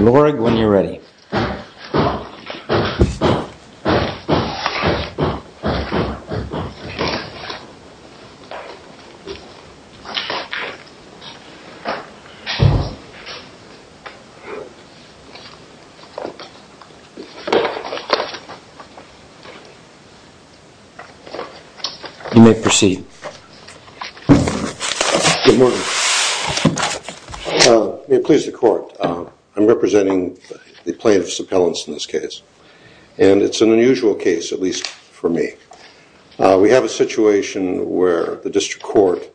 Leorgd 1 when you are ready. You may proceed. Good morning. May it please the court. I'm representing the plaintiff's appellants in this case. And it's an unusual case, at least for me. We have a situation where the district court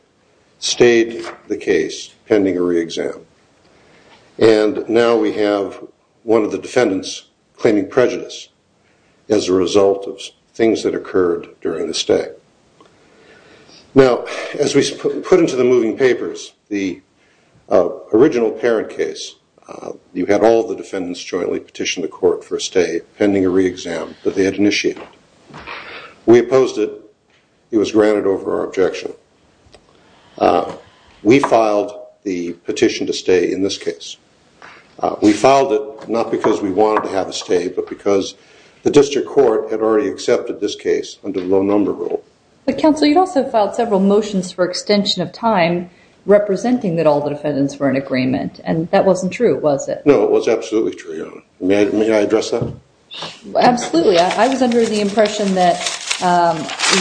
stayed the case pending a re-exam. And now we have one of the defendants claiming prejudice as a result of things that occurred during the stay. Now, as we put into the moving papers, the original parent case, you had all the defendants jointly petition the court for a stay pending a re-exam that they had initiated. We opposed it. It was granted over our objection. We filed the petition to stay in this case. We filed it not because we wanted to have a stay, but because the district court had already accepted this case under the low number rule. But, counsel, you'd also filed several motions for extension of time representing that all the defendants were in agreement. And that wasn't true, was it? No, it was absolutely true. May I address that? Absolutely. I was under the impression that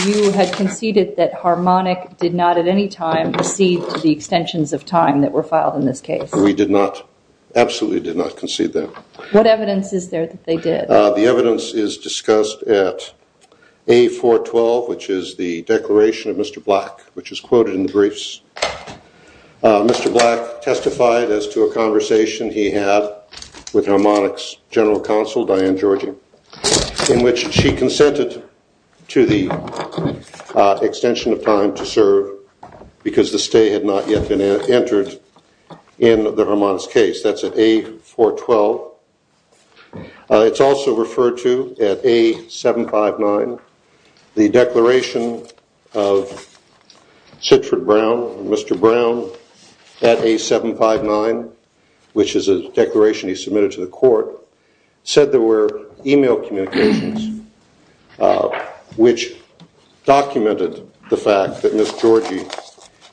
you had conceded that Harmonic did not at any time recede to the extensions of time that were filed in this case. We did not, absolutely did not concede that. What evidence is there that they did? The evidence is discussed at A412, which is the declaration of Mr. Black, which is quoted in the briefs. Mr. Black testified as to a conversation he had with Harmonic's general counsel, Diane Georgie, in which she consented to the extension of time to serve because the stay had not yet been entered in the Harmonic's case. That's at A412. It's also referred to at A759. The declaration of Sitford Brown, Mr. Brown, at A759, which is a declaration he submitted to the court, said there were email communications which documented the fact that Ms. Georgie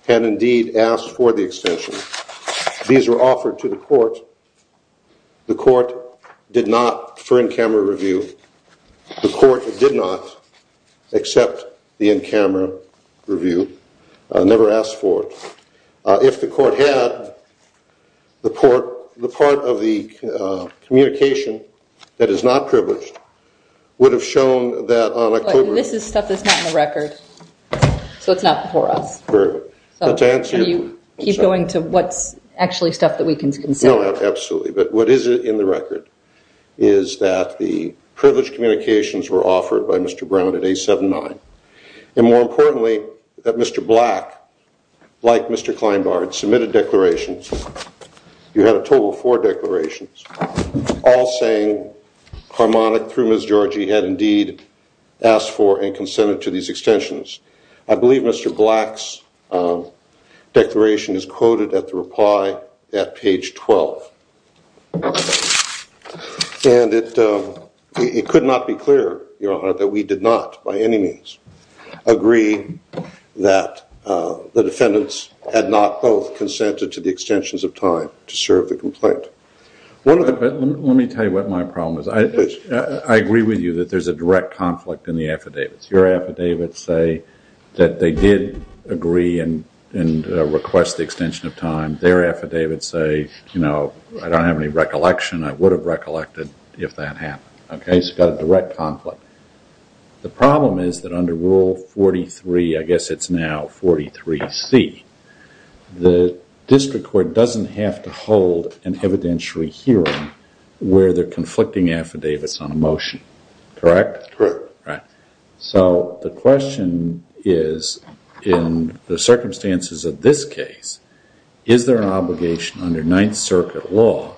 had indeed asked for the extension. These were offered to the court. The court did not, for in-camera review, the court did not accept the in-camera review, never asked for it. If the court had, the part of the communication that is not privileged would have shown that on October… This is stuff that's not in the record, so it's not before us. Can you keep going to what's actually stuff that we can consider? No, absolutely. But what is in the record is that the privileged communications were offered by Mr. Brown at A79. And more importantly, that Mr. Black, like Mr. Kleinbart, submitted declarations. You had a total of four declarations, all saying Harmonic, through Ms. Georgie, had indeed asked for and consented to these extensions. I believe Mr. Black's declaration is quoted at the reply at page 12. And it could not be clearer, Your Honor, that we did not, by any means, agree that the defendants had not both consented to the extensions of time to serve the complaint. Let me tell you what my problem is. I agree with you that there's a direct conflict in the affidavits. Your affidavits say that they did agree and request the extension of time. Their affidavits say, you know, I don't have any recollection. I would have recollected if that happened. Okay, so you've got a direct conflict. The problem is that under Rule 43, I guess it's now 43C, the district court doesn't have to hold an evidentiary hearing where they're conflicting affidavits on a motion. Correct? Correct. Right. So the question is, in the circumstances of this case, is there an obligation under Ninth Circuit law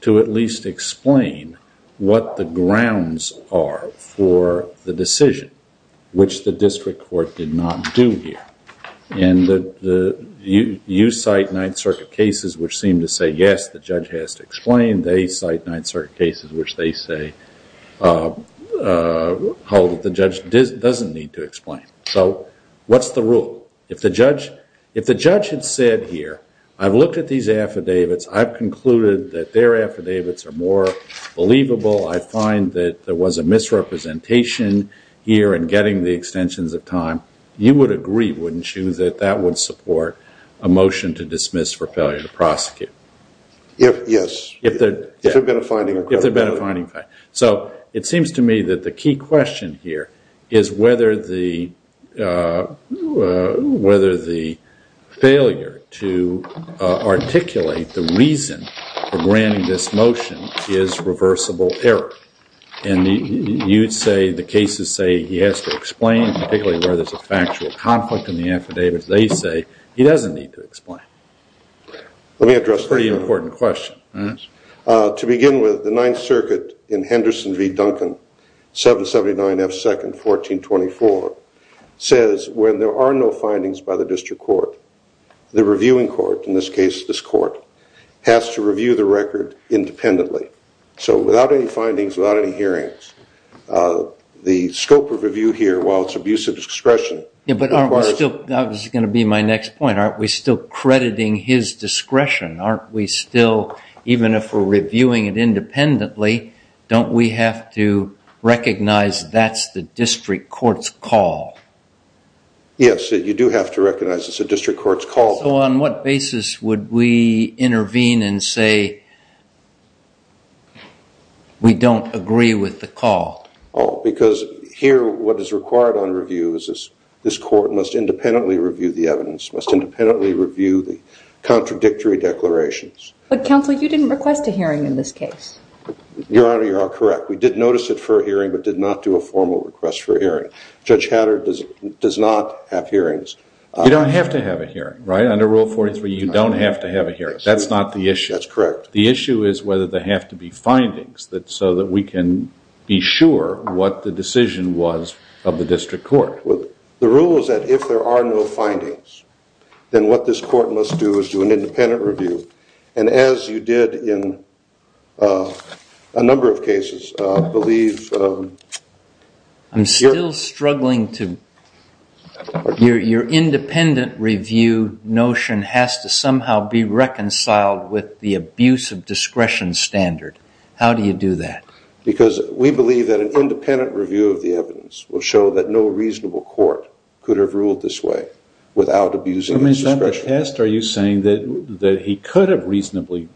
to at least explain what the grounds are for the decision, which the district court did not do here? You cite Ninth Circuit cases which seem to say, yes, the judge has to explain. They cite Ninth Circuit cases which they say the judge doesn't need to explain. So what's the rule? If the judge had said here, I've looked at these affidavits. I've concluded that their affidavits are more believable. I find that there was a misrepresentation here in getting the extensions of time. You would agree, wouldn't you, that that would support a motion to dismiss for failure to prosecute? Yes. If there had been a finding. If there had been a finding. So it seems to me that the key question here is whether the failure to articulate the reason for granting this motion is reversible error. And you'd say the cases say he has to explain, particularly where there's a factual conflict in the affidavits. They say he doesn't need to explain. Let me address that. Pretty important question. To begin with, the Ninth Circuit in Henderson v. Duncan, 779 F. 2nd, 1424, says when there are no findings by the district court, the reviewing court, in this case this court, has to review the record independently. So without any findings, without any hearings, the scope of review here, while it's abuse of discretion. But that was going to be my next point. Aren't we still crediting his discretion? Aren't we still, even if we're reviewing it independently, don't we have to recognize that's the district court's call? Yes, you do have to recognize it's a district court's call. So on what basis would we intervene and say we don't agree with the call? Oh, because here what is required on review is this court must independently review the evidence, must independently review the contradictory declarations. But counsel, you didn't request a hearing in this case. Your Honor, you are correct. We did notice it for a hearing, but did not do a formal request for a hearing. Judge Hatter does not have hearings. You don't have to have a hearing, right? Under Rule 43, you don't have to have a hearing. That's not the issue. That's correct. The issue is whether there have to be findings so that we can be sure what the decision was of the district court. The rule is that if there are no findings, then what this court must do is do an independent review. And as you did in a number of cases, I believe... I'm still struggling to... Your independent review notion has to somehow be reconciled with the abuse of discretion standard. How do you do that? Because we believe that an independent review of the evidence will show that no reasonable court could have ruled this way without abusing discretion. Are you saying that he could have reasonably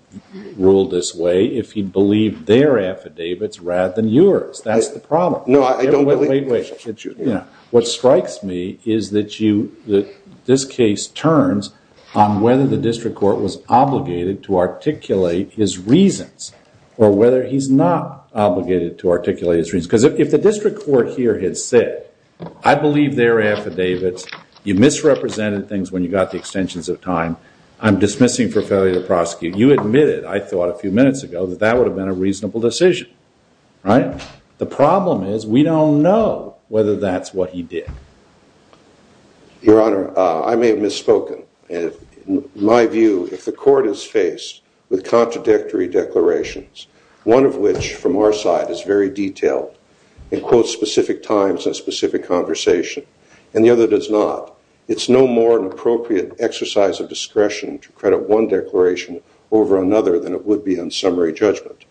ruled this way if he believed their affidavits rather than yours? That's the problem. No, I don't believe... Wait, wait. What strikes me is that this case turns on whether the district court was obligated to articulate his reasons, or whether he's not obligated to articulate his reasons. Because if the district court here had said, I believe their affidavits, you misrepresented things when you got the extensions of time. I'm dismissing for failure to prosecute. You admitted, I thought a few minutes ago, that that would have been a reasonable decision. Right? The problem is we don't know whether that's what he did. Your Honor, I may have misspoken. In my view, if the court is faced with contradictory declarations, one of which, from our side, is very detailed and quotes specific times and specific conversation, and the other does not, it's no more an appropriate exercise of discretion to credit one declaration over another than it would be on summary judgment.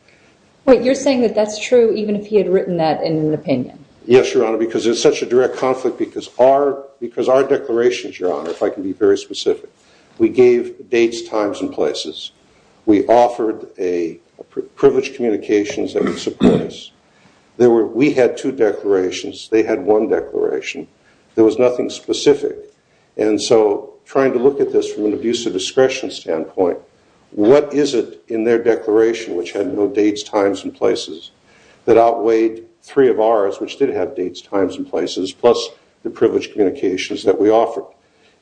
Wait, you're saying that that's true even if he had written that in an opinion? Yes, Your Honor, because it's such a direct conflict because our declarations, Your Honor, if I can be very specific, we gave dates, times, and places. We offered privileged communications that would support us. We had two declarations. They had one declaration. There was nothing specific. And so trying to look at this from an abuse of discretion standpoint, what is it in their declaration, which had no dates, times, and places, that outweighed three of ours, which did have dates, times, and places, plus the privileged communications that we offered?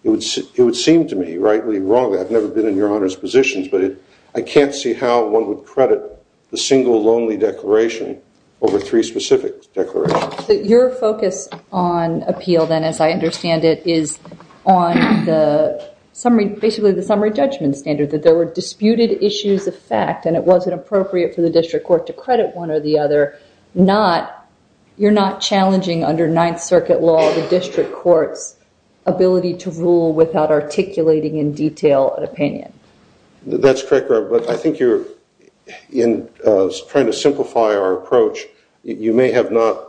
It would seem to me, rightly or wrongly, I've never been in Your Honor's positions, but I can't see how one would credit the single lonely declaration over three specific declarations. Your focus on appeal then, as I understand it, is on basically the summary judgment standard, that there were disputed issues of fact, and it wasn't appropriate for the district court to credit one or the other. You're not challenging under Ninth Circuit law the district court's ability to rule without articulating in detail an opinion? That's correct, Your Honor, but I think you're trying to simplify our approach. You may have not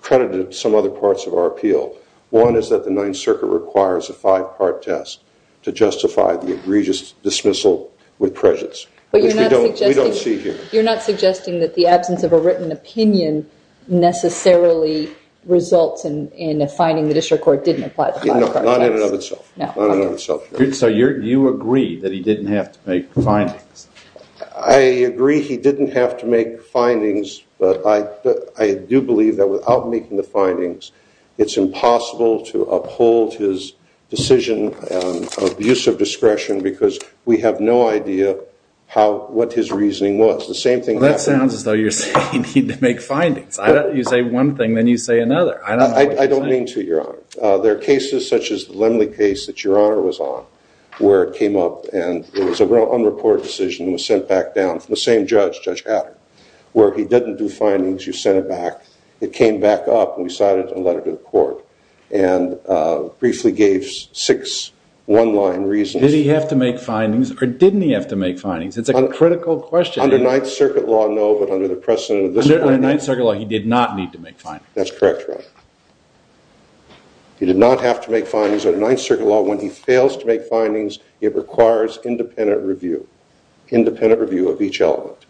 credited some other parts of our appeal. One is that the Ninth Circuit requires a five-part test to justify the egregious dismissal with prejudice, which we don't see here. But you're not suggesting that the absence of a written opinion necessarily results in a finding the district court didn't apply the five-part test? No, not in and of itself. So you agree that he didn't have to make findings? I agree he didn't have to make findings, but I do believe that without making the findings, it's impossible to uphold his decision of use of discretion because we have no idea what his reasoning was. That sounds as though you're saying you need to make findings. You say one thing, then you say another. I don't mean to, Your Honor. There are cases such as the Lemley case that Your Honor was on where it came up and it was an unreported decision and was sent back down from the same judge, Judge Adder, where he didn't do findings. You sent it back. It came back up, and we cited it in a letter to the court and briefly gave six one-line reasons. Did he have to make findings, or didn't he have to make findings? It's a critical question. Under Ninth Circuit law, no, but under the precedent of the district court, he did not need to make findings. That's correct, Your Honor. He did not have to make findings. Under Ninth Circuit law, when he fails to make findings, it requires independent review, independent review of each element.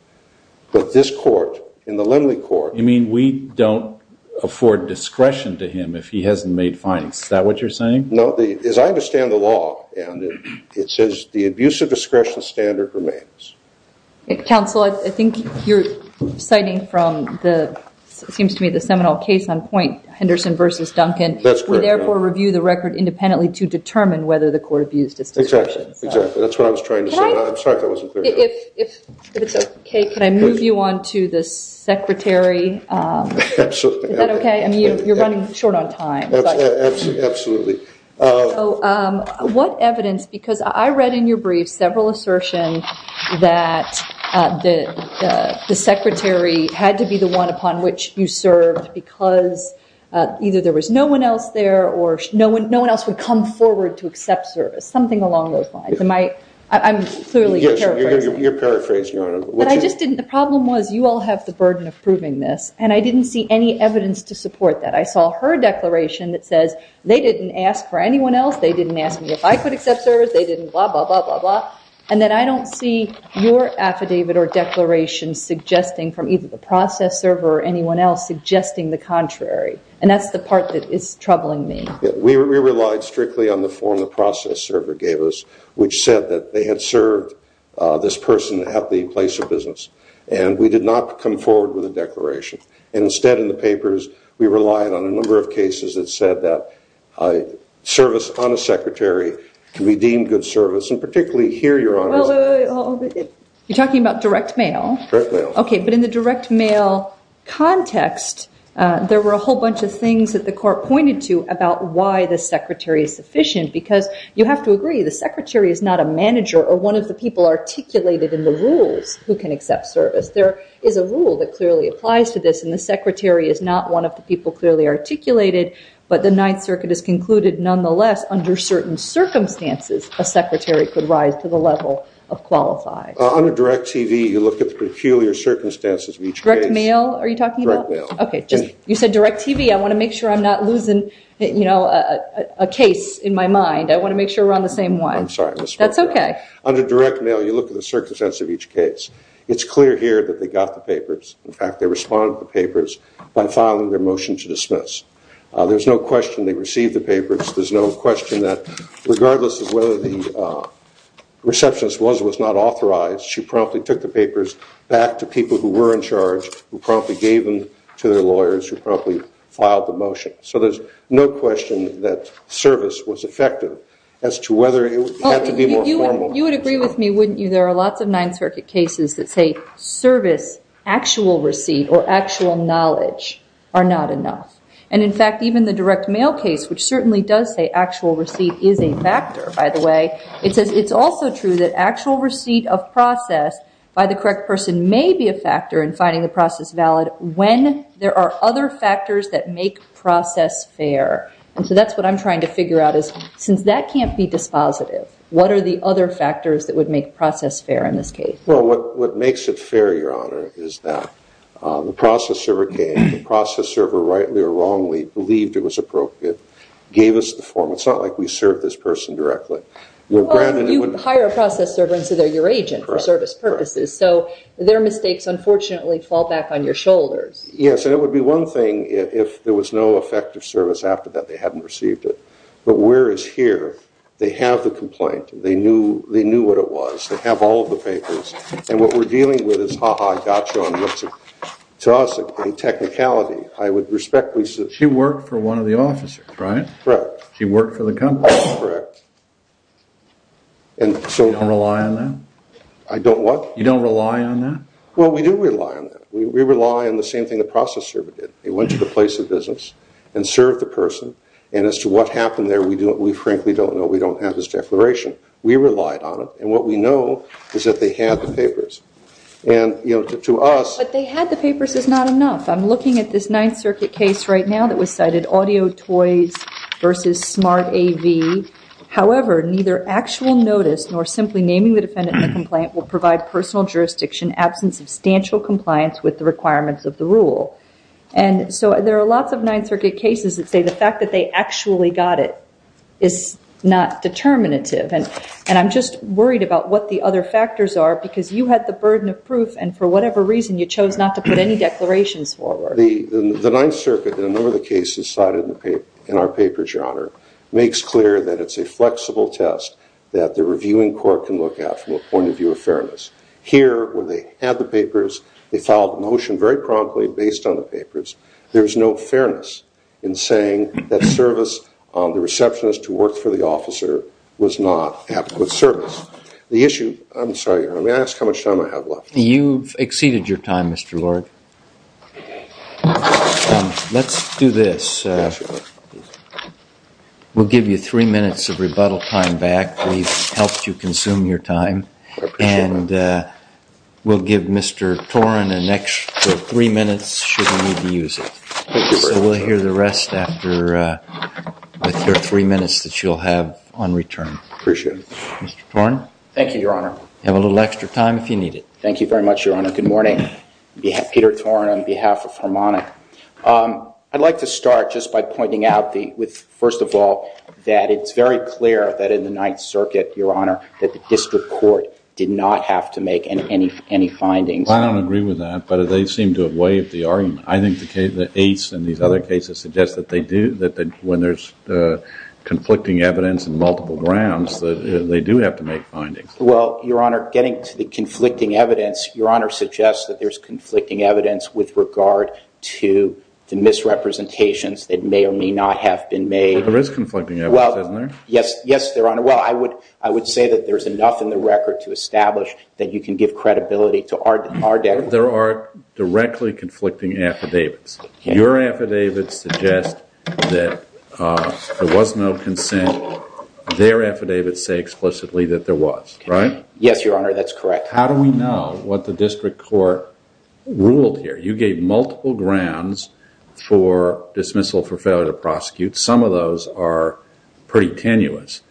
But this court, in the Lemley court- You mean we don't afford discretion to him if he hasn't made findings. Is that what you're saying? No. As I understand the law, it says the abuse of discretion standard remains. Counsel, I think you're citing from the, it seems to me, the seminal case on point, Henderson v. Duncan. That's correct, Your Honor. We therefore review the record independently to determine whether the court abused its discretion. Exactly. That's what I was trying to say. Can I- I'm sorry if that wasn't clear enough. If it's okay, can I move you on to the secretary? Absolutely. Is that okay? You're running short on time. Absolutely. What evidence, because I read in your brief several assertions that the secretary had to be the one upon which you served because either there was no one else there or no one else would come forward to accept service, something along those lines. I'm clearly paraphrasing. You're paraphrasing, Your Honor. But I just didn't, the problem was you all have the burden of proving this, and I didn't see any evidence to support that. I saw her declaration that says they didn't ask for anyone else. They didn't ask me if I could accept service. They didn't blah, blah, blah, blah, blah, and that I don't see your affidavit or declaration suggesting from either the process server or anyone else suggesting the contrary, and that's the part that is troubling me. We relied strictly on the form the process server gave us, which said that they had served this person at the place of business, and we did not come forward with a declaration. Instead, in the papers, we relied on a number of cases that said that service on a secretary can be deemed good service, and particularly here, Your Honor. You're talking about direct mail? Direct mail. Okay, but in the direct mail context, there were a whole bunch of things that the court pointed to about why the secretary is sufficient because you have to agree the secretary is not a manager or one of the people articulated in the rules who can accept service. There is a rule that clearly applies to this, and the secretary is not one of the people clearly articulated, but the Ninth Circuit has concluded, nonetheless, under certain circumstances, a secretary could rise to the level of qualified. Under direct TV, you look at the peculiar circumstances of each case. Direct mail are you talking about? Direct mail. Okay, you said direct TV. I want to make sure I'm not losing, you know, a case in my mind. I want to make sure we're on the same one. I'm sorry. That's okay. Under direct mail, you look at the circumstances of each case. It's clear here that they got the papers. In fact, they responded to the papers by filing their motion to dismiss. There's no question they received the papers. There's no question that regardless of whether the receptionist was or was not authorized, she promptly took the papers back to people who were in charge, who promptly gave them to their lawyers, who promptly filed the motion. So there's no question that service was effective as to whether it had to be more formal. You would agree with me, wouldn't you? There are lots of Ninth Circuit cases that say service, actual receipt, or actual knowledge are not enough. And, in fact, even the direct mail case, which certainly does say actual receipt is a factor, by the way, it says it's also true that actual receipt of process by the correct person may be a factor in finding the process valid when there are other factors that make process fair. And so that's what I'm trying to figure out is since that can't be dispositive, what are the other factors that would make process fair in this case? Well, what makes it fair, Your Honor, is that the process server came, the process server, rightly or wrongly, believed it was appropriate, gave us the form. It's not like we served this person directly. Well, you hire a process server and say they're your agent for service purposes. So their mistakes, unfortunately, fall back on your shoulders. Yes, and it would be one thing if there was no effective service after that. They hadn't received it. But where it's here, they have the complaint. They knew what it was. They have all of the papers. And what we're dealing with is ha-ha, gotcha. To us, in technicality, I would respectfully say... She worked for one of the officers, right? Correct. She worked for the company. Correct. And so... You don't rely on that? I don't what? You don't rely on that? Well, we do rely on that. We rely on the same thing the process server did. They went to the place of business and served the person. And as to what happened there, we frankly don't know. We don't have his declaration. We relied on it. And what we know is that they had the papers. And, you know, to us... But they had the papers is not enough. I'm looking at this Ninth Circuit case right now that was cited, Audio Toys v. Smart AV. However, neither actual notice nor simply naming the defendant in the complaint will provide personal jurisdiction, absence of substantial compliance with the requirements of the rule. And so there are lots of Ninth Circuit cases that say the fact that they actually got it is not determinative. And I'm just worried about what the other factors are because you had the burden of proof. And for whatever reason, you chose not to put any declarations forward. The Ninth Circuit, in a number of the cases cited in our papers, Your Honor, makes clear that it's a flexible test that the reviewing court can look at from a point of view of fairness. Here, when they had the papers, they filed a motion very promptly based on the papers. There is no fairness in saying that service on the receptionist who worked for the officer was not adequate service. The issue... I'm sorry, Your Honor. May I ask how much time I have left? You've exceeded your time, Mr. Lord. Let's do this. We'll give you three minutes of rebuttal time back. We've helped you consume your time. I appreciate it. And we'll give Mr. Toren an extra three minutes should you need to use it. Thank you very much. So we'll hear the rest after with your three minutes that you'll have on return. I appreciate it. Mr. Toren. Thank you, Your Honor. You have a little extra time if you need it. Thank you very much, Your Honor. Good morning. Peter Toren on behalf of Harmonic. I'd like to start just by pointing out, first of all, that it's very clear that in the Ninth Circuit, Your Honor, that the district court did not have to make any findings. I don't agree with that, but they seem to have waived the argument. I think the case and these other cases suggest that when there's conflicting evidence on multiple grounds, that they do have to make findings. Well, Your Honor, getting to the conflicting evidence, Your Honor suggests that there's conflicting evidence with regard to the misrepresentations that may or may not have been made. There is conflicting evidence, isn't there? Yes, Your Honor. Well, I would say that there's enough in the record to establish that you can give credibility to our deck. There are directly conflicting affidavits. Your affidavits suggest that there was no consent. Their affidavits say explicitly that there was, right? Yes, Your Honor, that's correct. How do we know what the district court ruled here? You gave multiple grounds for dismissal for failure to prosecute. Some of those are pretty tenuous,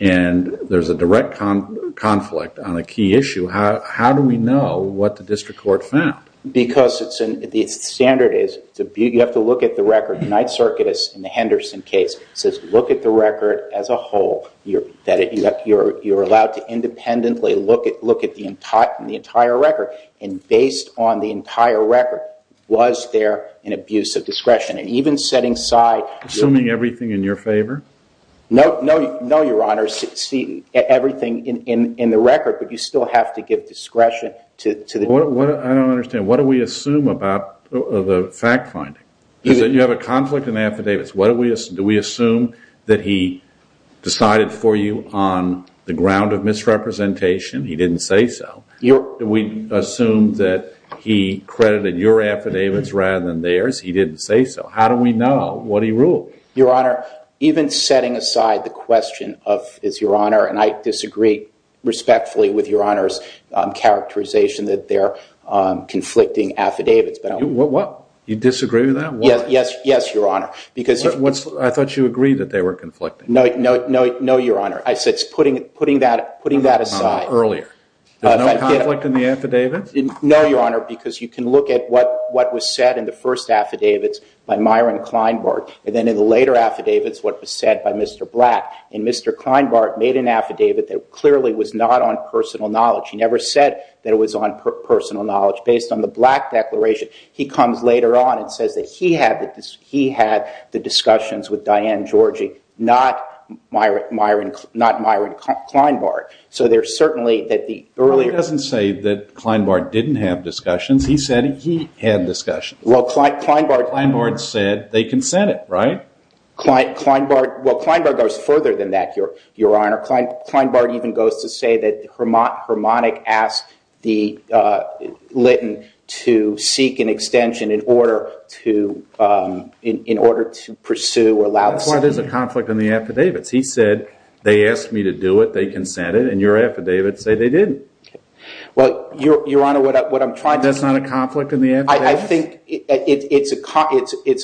and there's a direct conflict on a key issue. How do we know what the district court found? Because the standard is you have to look at the record. Knight-Circuitous in the Henderson case says look at the record as a whole, that you're allowed to independently look at the entire record, and based on the entire record, was there an abuse of discretion? And even setting aside— Assuming everything in your favor? No, Your Honor, everything in the record, but you still have to give discretion to the district court. I don't understand. What do we assume about the fact finding? You have a conflict in affidavits. Do we assume that he decided for you on the ground of misrepresentation? He didn't say so. Do we assume that he credited your affidavits rather than theirs? He didn't say so. How do we know what he ruled? Your Honor, even setting aside the question of, and I disagree respectfully with Your Honor's characterization that they're conflicting affidavits. You disagree with that? Yes, Your Honor. I thought you agreed that they were conflicting. No, Your Honor. I said putting that aside. Earlier. No conflict in the affidavits? No, Your Honor, because you can look at what was said in the first affidavits by Myron Kleinbart, and then in the later affidavits what was said by Mr. Black. And Mr. Kleinbart made an affidavit that clearly was not on personal knowledge. He never said that it was on personal knowledge. Based on the Black declaration, he comes later on and says that he had the discussions with Diane Georgie, not Myron Kleinbart. So there's certainly that the earlier. He doesn't say that Kleinbart didn't have discussions. He said he had discussions. Well, Kleinbart. Kleinbart said they consented, right? Kleinbart goes further than that, Your Honor. Kleinbart even goes to say that Harmonic asked Litton to seek an extension in order to pursue or allow. That's why there's a conflict in the affidavits. He said they asked me to do it, they consented, and your affidavits say they didn't. Well, Your Honor, what I'm trying to say. That's not a conflict in the affidavits? I think it's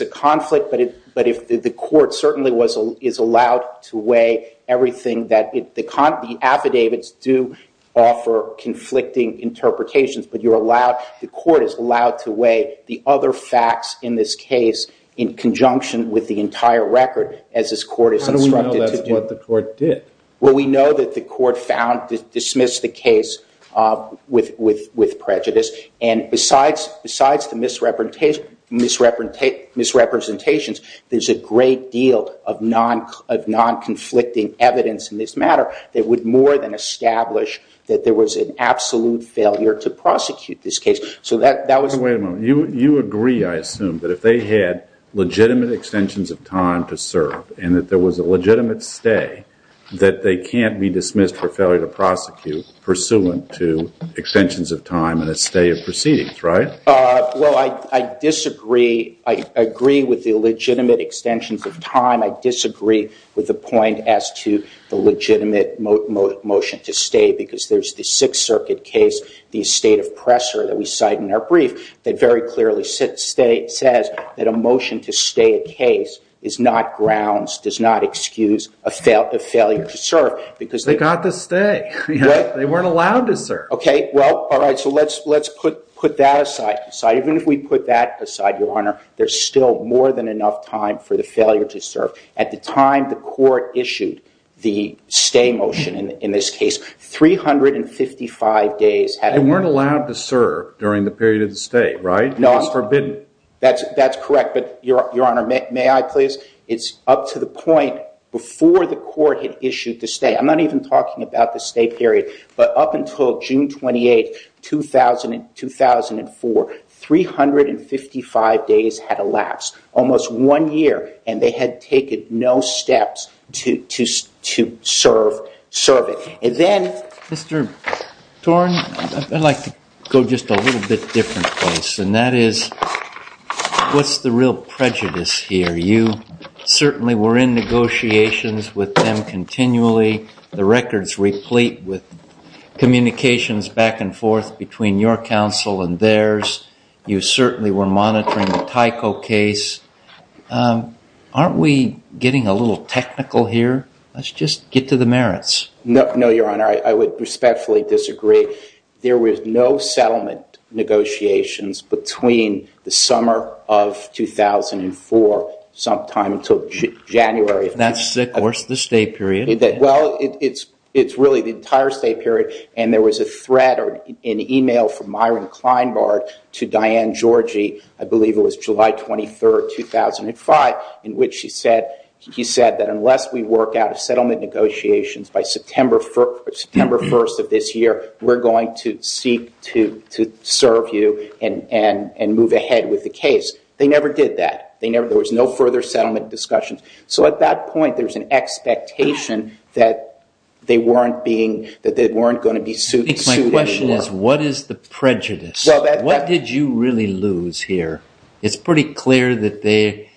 a conflict. But the court certainly is allowed to weigh everything that the affidavits do offer conflicting interpretations. But the court is allowed to weigh the other facts in this case in conjunction with the entire record as this court is instructed to do. How do we know that's what the court did? Well, we know that the court dismissed the case with prejudice. And besides the misrepresentations, there's a great deal of non-conflicting evidence in this matter that would more than establish that there was an absolute failure to prosecute this case. You agree, I assume, that if they had legitimate extensions of time to serve and that there was a legitimate stay, that they can't be dismissed for failure to prosecute pursuant to extensions of time and a stay of proceedings, right? Well, I disagree. I agree with the legitimate extensions of time. I disagree with the point as to the legitimate motion to stay because there's the Sixth Circuit case, the estate of Presser that we cite in our brief, that very clearly says that a motion to stay a case is not grounds, does not excuse a failure to serve. They got the stay. They weren't allowed to serve. OK. Well, all right. So let's put that aside. Even if we put that aside, Your Honor, there's still more than enough time for the failure to serve. At the time the court issued the stay motion in this case, 355 days had elapsed. They weren't allowed to serve during the period of the stay, right? It was forbidden. That's correct. But, Your Honor, may I please? It's up to the point before the court had issued the stay. I'm not even talking about the stay period. But up until June 28, 2004, 355 days had elapsed, almost one year, and they had taken no steps to serve it. And then, Mr. Thorne, I'd like to go just a little bit different place, and that is what's the real prejudice here? You certainly were in negotiations with them continually. The records replete with communications back and forth between your counsel and theirs. You certainly were monitoring the Tyco case. Aren't we getting a little technical here? Let's just get to the merits. No, Your Honor. I would respectfully disagree. There was no settlement negotiations between the summer of 2004 sometime until January. That's the course of the stay period. Well, it's really the entire stay period. And there was a threat or an email from Myron Kleinbart to Diane Georgie, I believe it was July 23, 2005, in which he said that unless we work out a settlement negotiations by September 1st of this year, we're going to seek to serve you and move ahead with the case. They never did that. There was no further settlement discussions. So at that point, there's an expectation that they weren't going to be suited anymore. My question is, what is the prejudice? What did you really lose here? It's pretty clear that they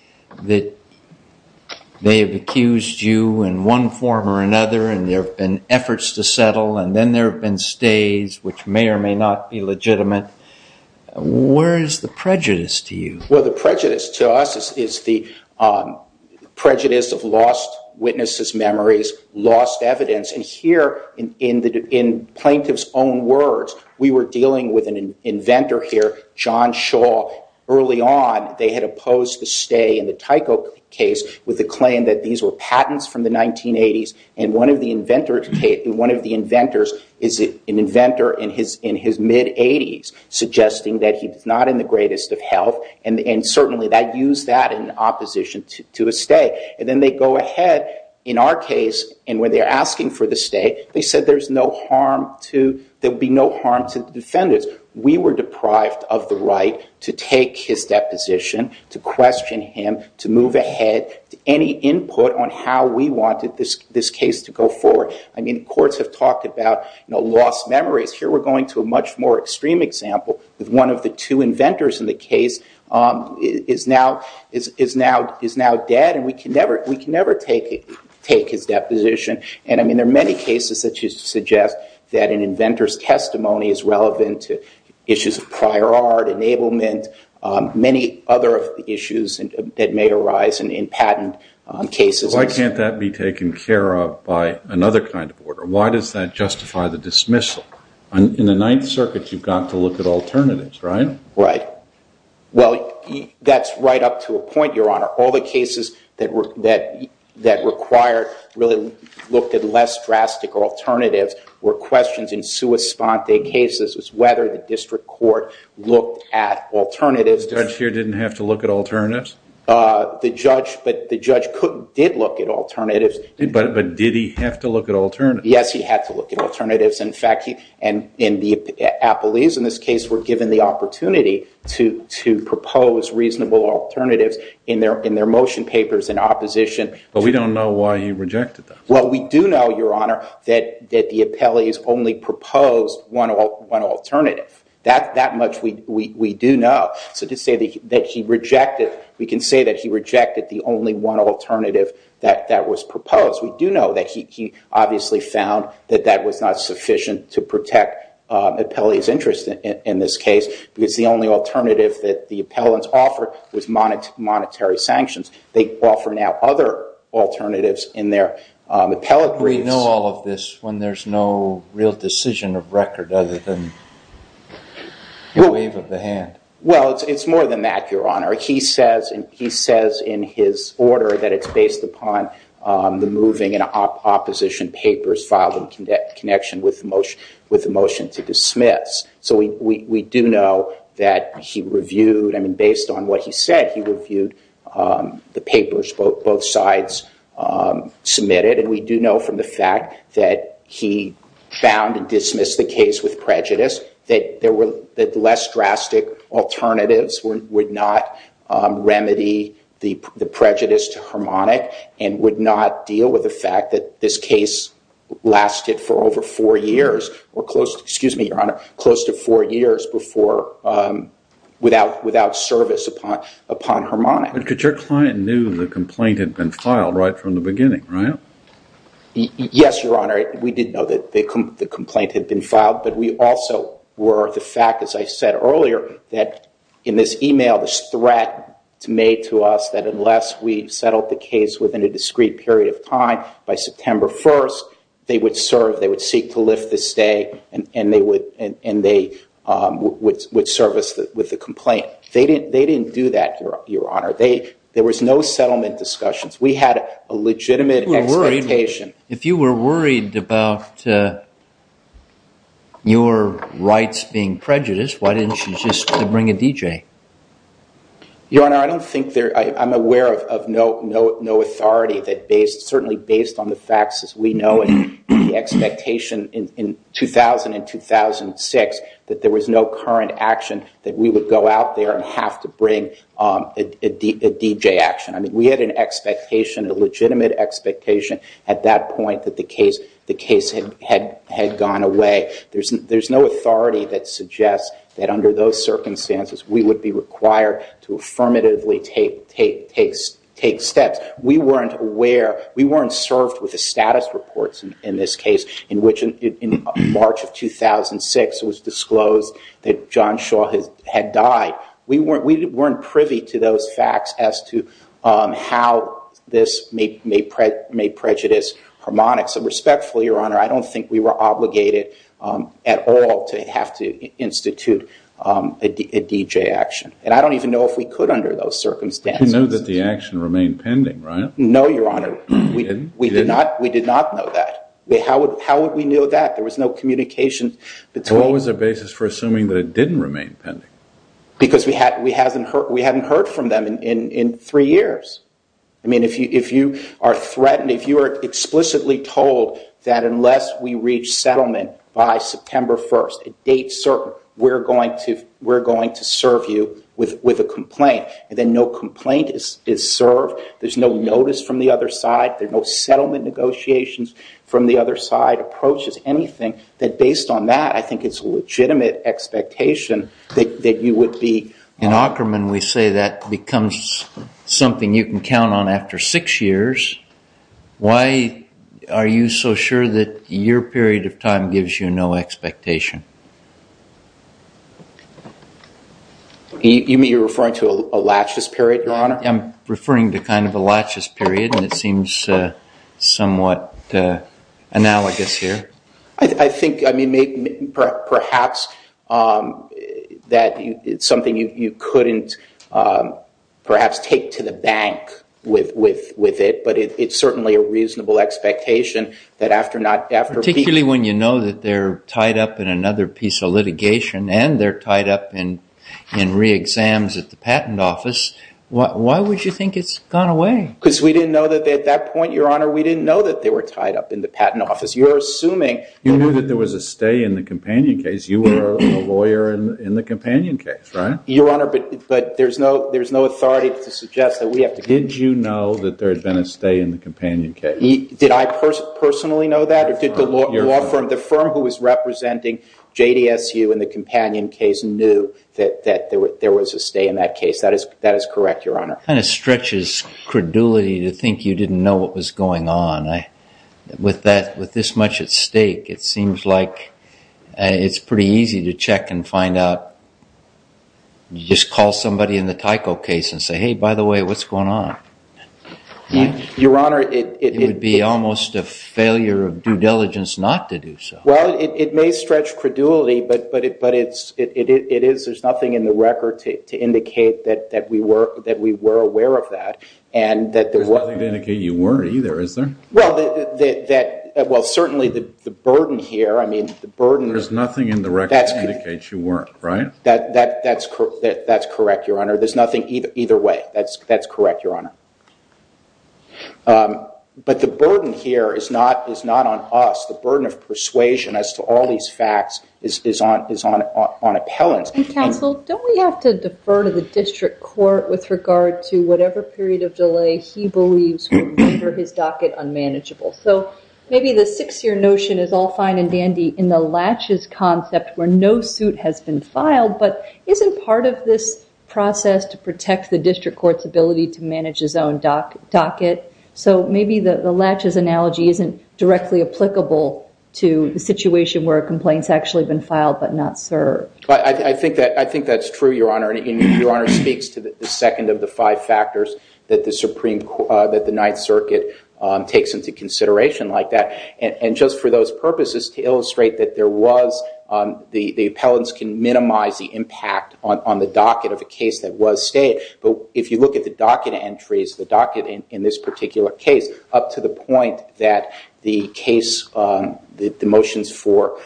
have accused you in one form or another, and there have been efforts to settle, and then there have been stays which may or may not be legitimate. Where is the prejudice to you? Well, the prejudice to us is the prejudice of lost witnesses' memories, lost evidence. And here, in plaintiff's own words, we were dealing with an inventor here, John Shaw. Early on, they had opposed the stay in the Tyco case with the claim that these were patents from the 1980s, and one of the inventors is an inventor in his mid-80s, suggesting that he's not in the greatest of health, and certainly that used that in opposition to a stay. And then they go ahead in our case, and when they're asking for the stay, they said there would be no harm to the defendants. We were deprived of the right to take his deposition, to question him, to move ahead, to any input on how we wanted this case to go forward. I mean, courts have talked about lost memories. Here, we're going to a much more extreme example with one of the two inventors in the case is now dead, and we can never take his deposition. And, I mean, there are many cases that suggest that an inventor's testimony is relevant to issues of prior art, enablement, many other issues that may arise in patent cases. Why can't that be taken care of by another kind of order? Why does that justify the dismissal? In the Ninth Circuit, you've got to look at alternatives, right? Right. Well, that's right up to a point, Your Honor. All the cases that required, really looked at less drastic alternatives were questions in sua sponte cases, was whether the district court looked at alternatives. The judge here didn't have to look at alternatives? The judge did look at alternatives. But did he have to look at alternatives? Yes, he had to look at alternatives. And the appellees in this case were given the opportunity to propose reasonable alternatives in their motion papers in opposition. But we don't know why he rejected them. Well, we do know, Your Honor, that the appellees only proposed one alternative. That much we do know. So to say that he rejected, we can say that he rejected the only one alternative that was proposed. We do know that he obviously found that that was not sufficient to protect appellees' interest in this case, because the only alternative that the appellants offered was monetary sanctions. They offer now other alternatives in their appellate briefs. We know all of this when there's no real decision of record other than the wave of the hand. Well, it's more than that, Your Honor. He says in his order that it's based upon the moving and opposition papers filed in connection with the motion to dismiss. So we do know that he reviewed, I mean, based on what he said, he reviewed the papers both sides submitted. And we do know from the fact that he found and dismissed the case with prejudice that less drastic alternatives would not remedy the prejudice to Harmonic and would not deal with the fact that this case lasted for over four years, or close to, excuse me, Your Honor, close to four years without service upon Harmonic. But your client knew the complaint had been filed right from the beginning, right? Yes, Your Honor. We did know that the complaint had been filed. But we also were the fact, as I said earlier, that in this email, this threat made to us that unless we settled the case within a discrete period of time, by September 1st, they would serve, they would seek to lift the stay, and they would service with the complaint. They didn't do that, Your Honor. There was no settlement discussions. We had a legitimate expectation. If you were worried about your rights being prejudiced, why didn't you just bring a DJ? Your Honor, I don't think there, I'm aware of no authority that based, certainly based on the facts as we know it, the expectation in 2000 and 2006 that there was no current action that we would go out there and have to bring a DJ action. I mean, we had an expectation, a legitimate expectation at that point that the case had gone away. There's no authority that suggests that under those circumstances we would be required to affirmatively take steps. We weren't aware, we weren't served with the status reports in this case in which in March of 2006 it was disclosed that John Shaw had died. We weren't privy to those facts as to how this may prejudice harmonics. And respectfully, Your Honor, I don't think we were obligated at all to have to institute a DJ action. And I don't even know if we could under those circumstances. You know that the action remained pending, right? No, Your Honor. It didn't? We did not know that. How would we know that? There was no communication between. What was the basis for assuming that it didn't remain pending? Because we hadn't heard from them in three years. I mean, if you are threatened, if you are explicitly told that unless we reach settlement by September 1st, a date certain, we're going to serve you with a complaint, and then no complaint is served, there's no notice from the other side, there are no settlement negotiations from the other side, approaches, anything, that based on that I think it's a legitimate expectation that you would be. In Aukerman we say that becomes something you can count on after six years. Why are you so sure that your period of time gives you no expectation? You mean you're referring to a laches period, Your Honor? I'm referring to kind of a laches period, and it seems somewhat analogous here. I think, I mean, perhaps that it's something you couldn't perhaps take to the bank with it, but it's certainly a reasonable expectation that after not, after... Particularly when you know that they're tied up in another piece of litigation, and they're tied up in re-exams at the patent office, why would you think it's gone away? Because we didn't know that at that point, Your Honor, we didn't know that they were tied up in the patent office. You're assuming... You knew that there was a stay in the Companion case. You were a lawyer in the Companion case, right? Your Honor, but there's no authority to suggest that we have to... Did you know that there had been a stay in the Companion case? Did I personally know that, or did the law firm? The firm who was representing JDSU in the Companion case knew that there was a stay in that case. That is correct, Your Honor. It kind of stretches credulity to think you didn't know what was going on. With this much at stake, it seems like it's pretty easy to check and find out. You just call somebody in the Tyco case and say, hey, by the way, what's going on? Your Honor, it... It would be almost a failure of due diligence not to do so. Well, it may stretch credulity, but it is... There's nothing in the record to indicate that we were aware of that, and that there were... Well, certainly the burden here, I mean, the burden... There's nothing in the record to indicate you weren't, right? That's correct, Your Honor. There's nothing either way. That's correct, Your Honor. But the burden here is not on us. The burden of persuasion as to all these facts is on appellants. Counsel, don't we have to defer to the district court with regard to whatever period of delay he believes will render his docket unmanageable? So maybe the six-year notion is all fine and dandy in the latches concept where no suit has been filed, but isn't part of this process to protect the district court's ability to manage his own docket? So maybe the latches analogy isn't directly applicable to the situation where a complaint's actually been filed but not served. I think that's true, Your Honor. Your Honor speaks to the second of the five factors that the Ninth Circuit takes into consideration like that. And just for those purposes, to illustrate that there was... The appellants can minimize the impact on the docket of a case that was stayed. But if you look at the docket entries, the docket in this particular case, up to the point that the motions for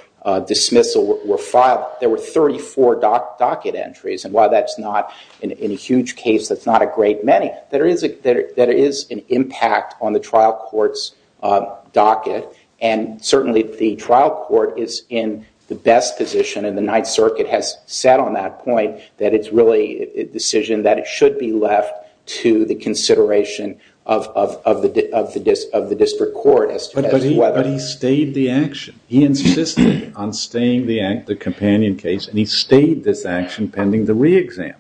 dismissal were filed, there were 34 docket entries. And while that's not, in a huge case, that's not a great many, there is an impact on the trial court's docket. And certainly the trial court is in the best position, and the Ninth Circuit has sat on that point, that it's really a decision that it should be left to the consideration of the district court as to whether... But he stayed the action. He insisted on staying the companion case, and he stayed this action pending the re-exam.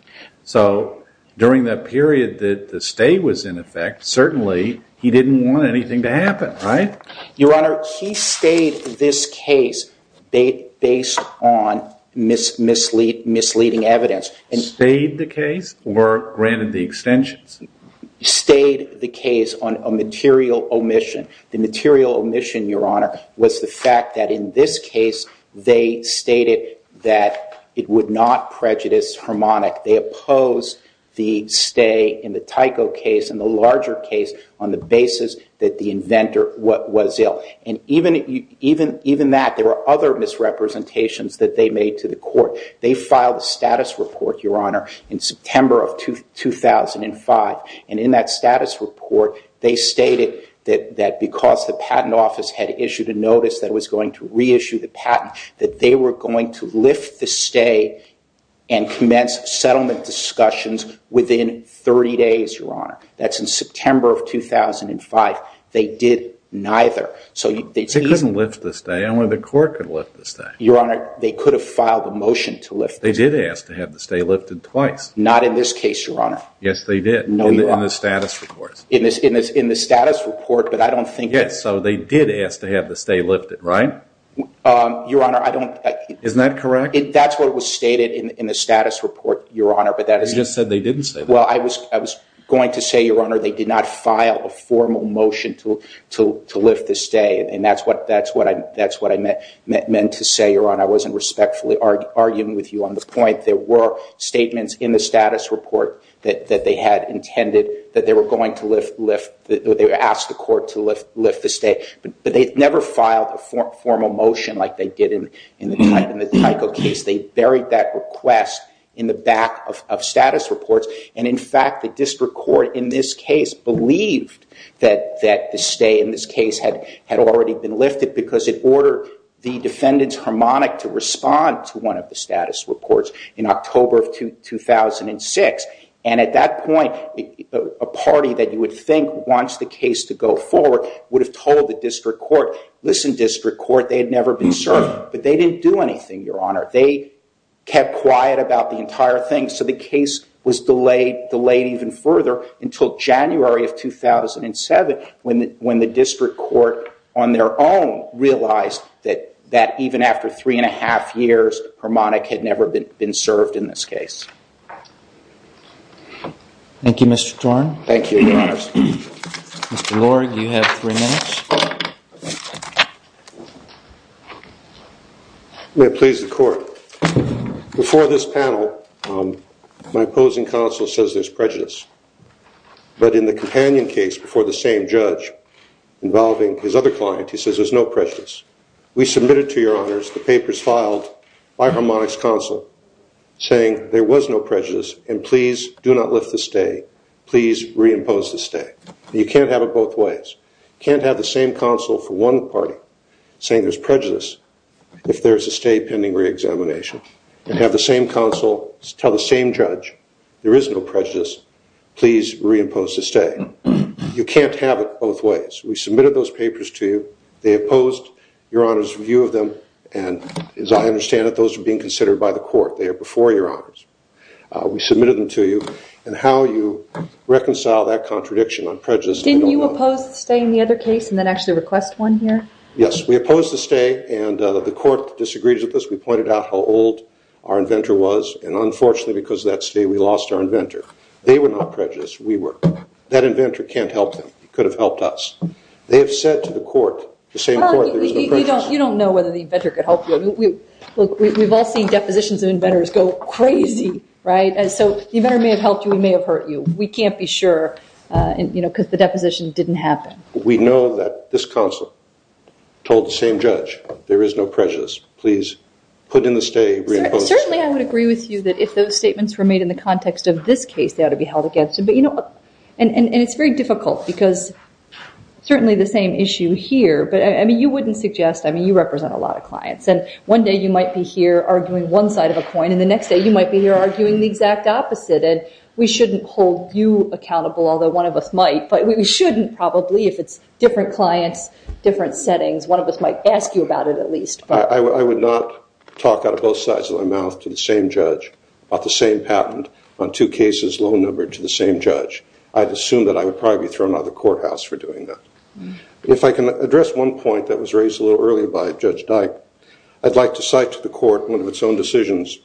So during that period that the stay was in effect, certainly he didn't want anything to happen, right? Your Honor, he stayed this case based on misleading evidence. Stayed the case or granted the extensions? Stayed the case on a material omission. The material omission, Your Honor, was the fact that in this case they stated that it would not prejudice Harmonic. They opposed the stay in the Tyco case and the larger case on the basis that the inventor was ill. And even that, there were other misrepresentations that they made to the court. They filed a status report, Your Honor, in September of 2005. And in that status report, they stated that because the patent office had issued a notice that was going to reissue the patent, that they were going to lift the stay and commence settlement discussions within 30 days, Your Honor. That's in September of 2005. They did neither. They couldn't lift the stay. Only the court could lift the stay. Your Honor, they could have filed a motion to lift the stay. They did ask to have the stay lifted twice. Not in this case, Your Honor. Yes, they did. No, Your Honor. In the status report. In the status report, but I don't think that... Yes, so they did ask to have the stay lifted, right? Your Honor, I don't... Isn't that correct? That's what was stated in the status report, Your Honor. You just said they didn't say that. Well, I was going to say, Your Honor, they did not file a formal motion to lift the stay. And that's what I meant to say, Your Honor. I wasn't respectfully arguing with you on the point. There were statements in the status report that they had intended that they were going to lift. They asked the court to lift the stay. But they never filed a formal motion like they did in the Tyco case. They buried that request in the back of status reports. And, in fact, the district court in this case believed that the stay in this case had already been lifted because it ordered the defendant's harmonic to respond to one of the status reports in October of 2006. And at that point, a party that you would think wants the case to go forward would have told the district court, listen, district court, they had never been served. But they didn't do anything, Your Honor. They kept quiet about the entire thing. So the case was delayed even further until January of 2007 when the district court, on their own, realized that even after three and a half years, harmonic had never been served in this case. Thank you, Mr. Torn. Thank you, Your Honors. Mr. Lord, you have three minutes. May it please the Court. Before this panel, my opposing counsel says there's prejudice. But in the companion case before the same judge involving his other client, he says there's no prejudice. We submitted to Your Honors the papers filed by harmonic's counsel saying there was no prejudice and please do not lift the stay, please reimpose the stay. You can't have it both ways. You can't have the same counsel for one party saying there's prejudice if there's a stay pending reexamination and have the same counsel tell the same judge there is no prejudice, please reimpose the stay. You can't have it both ways. We submitted those papers to you. They opposed Your Honor's review of them, and as I understand it, those are being considered by the court. They are before Your Honors. We submitted them to you. And how you reconcile that contradiction on prejudice, I don't know. Were you opposed to staying the other case and then actually request one here? Yes, we opposed the stay, and the court disagreed with us. We pointed out how old our inventor was, and unfortunately, because of that stay, we lost our inventor. They were not prejudiced. We were. That inventor can't help them. He could have helped us. They have said to the court, the same court, there's no prejudice. You don't know whether the inventor could help you. Look, we've all seen depositions of inventors go crazy, right? So the inventor may have helped you. He may have hurt you. We can't be sure because the deposition didn't happen. We know that this counsel told the same judge, there is no prejudice. Please put in the stay. Certainly, I would agree with you that if those statements were made in the context of this case, they ought to be held against it. And it's very difficult because certainly the same issue here. But you wouldn't suggest. I mean, you represent a lot of clients. And one day you might be here arguing one side of a coin, and the next day you might be here arguing the exact opposite. And we shouldn't hold you accountable, although one of us might. But we shouldn't probably if it's different clients, different settings. One of us might ask you about it at least. I would not talk out of both sides of my mouth to the same judge about the same patent on two cases low numbered to the same judge. I'd assume that I would probably be thrown out of the courthouse for doing that. If I can address one point that was raised a little earlier by Judge Dyke, I'd like to cite to the court one of its own decisions.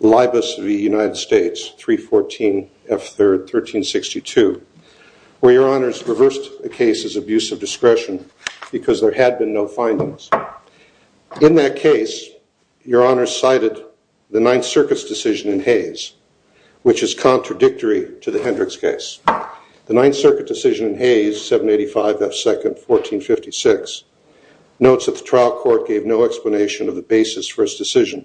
Libus v. United States, 314 F3rd, 1362, where your honors reversed the case as abuse of discretion because there had been no findings. In that case, your honors cited the Ninth Circuit's decision in Hayes, which is contradictory to the Hendricks case. The Ninth Circuit decision in Hayes, 785 F2nd, 1456, notes that the trial court gave no explanation of the basis for its decision.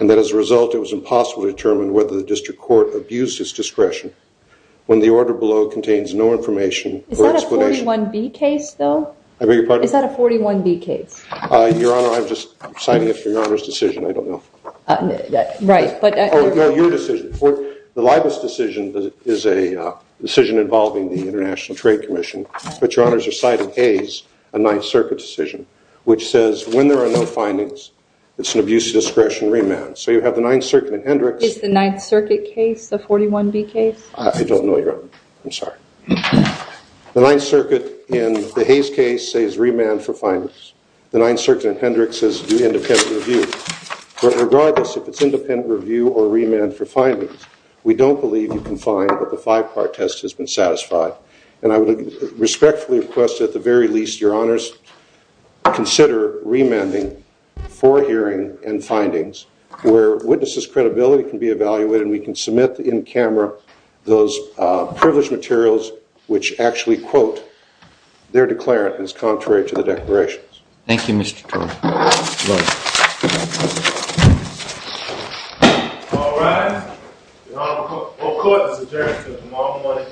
And that as a result, it was impossible to determine whether the district court abused its discretion when the order below contains no information or explanation. Is that a 41B case, though? I beg your pardon? Is that a 41B case? Your honor, I'm just citing it for your honor's decision. I don't know. Right. No, your decision. The Libus decision is a decision involving the International Trade Commission. But your honors are citing Hayes, a Ninth Circuit decision, which says when there are no findings, it's an abuse of discretion remand. So you have the Ninth Circuit in Hendricks. Is the Ninth Circuit case the 41B case? I don't know, your honor. I'm sorry. The Ninth Circuit in the Hayes case says remand for findings. The Ninth Circuit in Hendricks says do independent review. But regardless if it's independent review or remand for findings, we don't believe you can find that the five-part test has been satisfied. And I would respectfully request at the very least, your honors, consider remanding for hearing and findings where witnesses' credibility can be evaluated. And we can submit in camera those privileged materials which actually quote their declarant as contrary to the declarations. Thank you, Mr. Turner. You're welcome. All rise. Your Honor, the court has adjourned until tomorrow morning. Good day.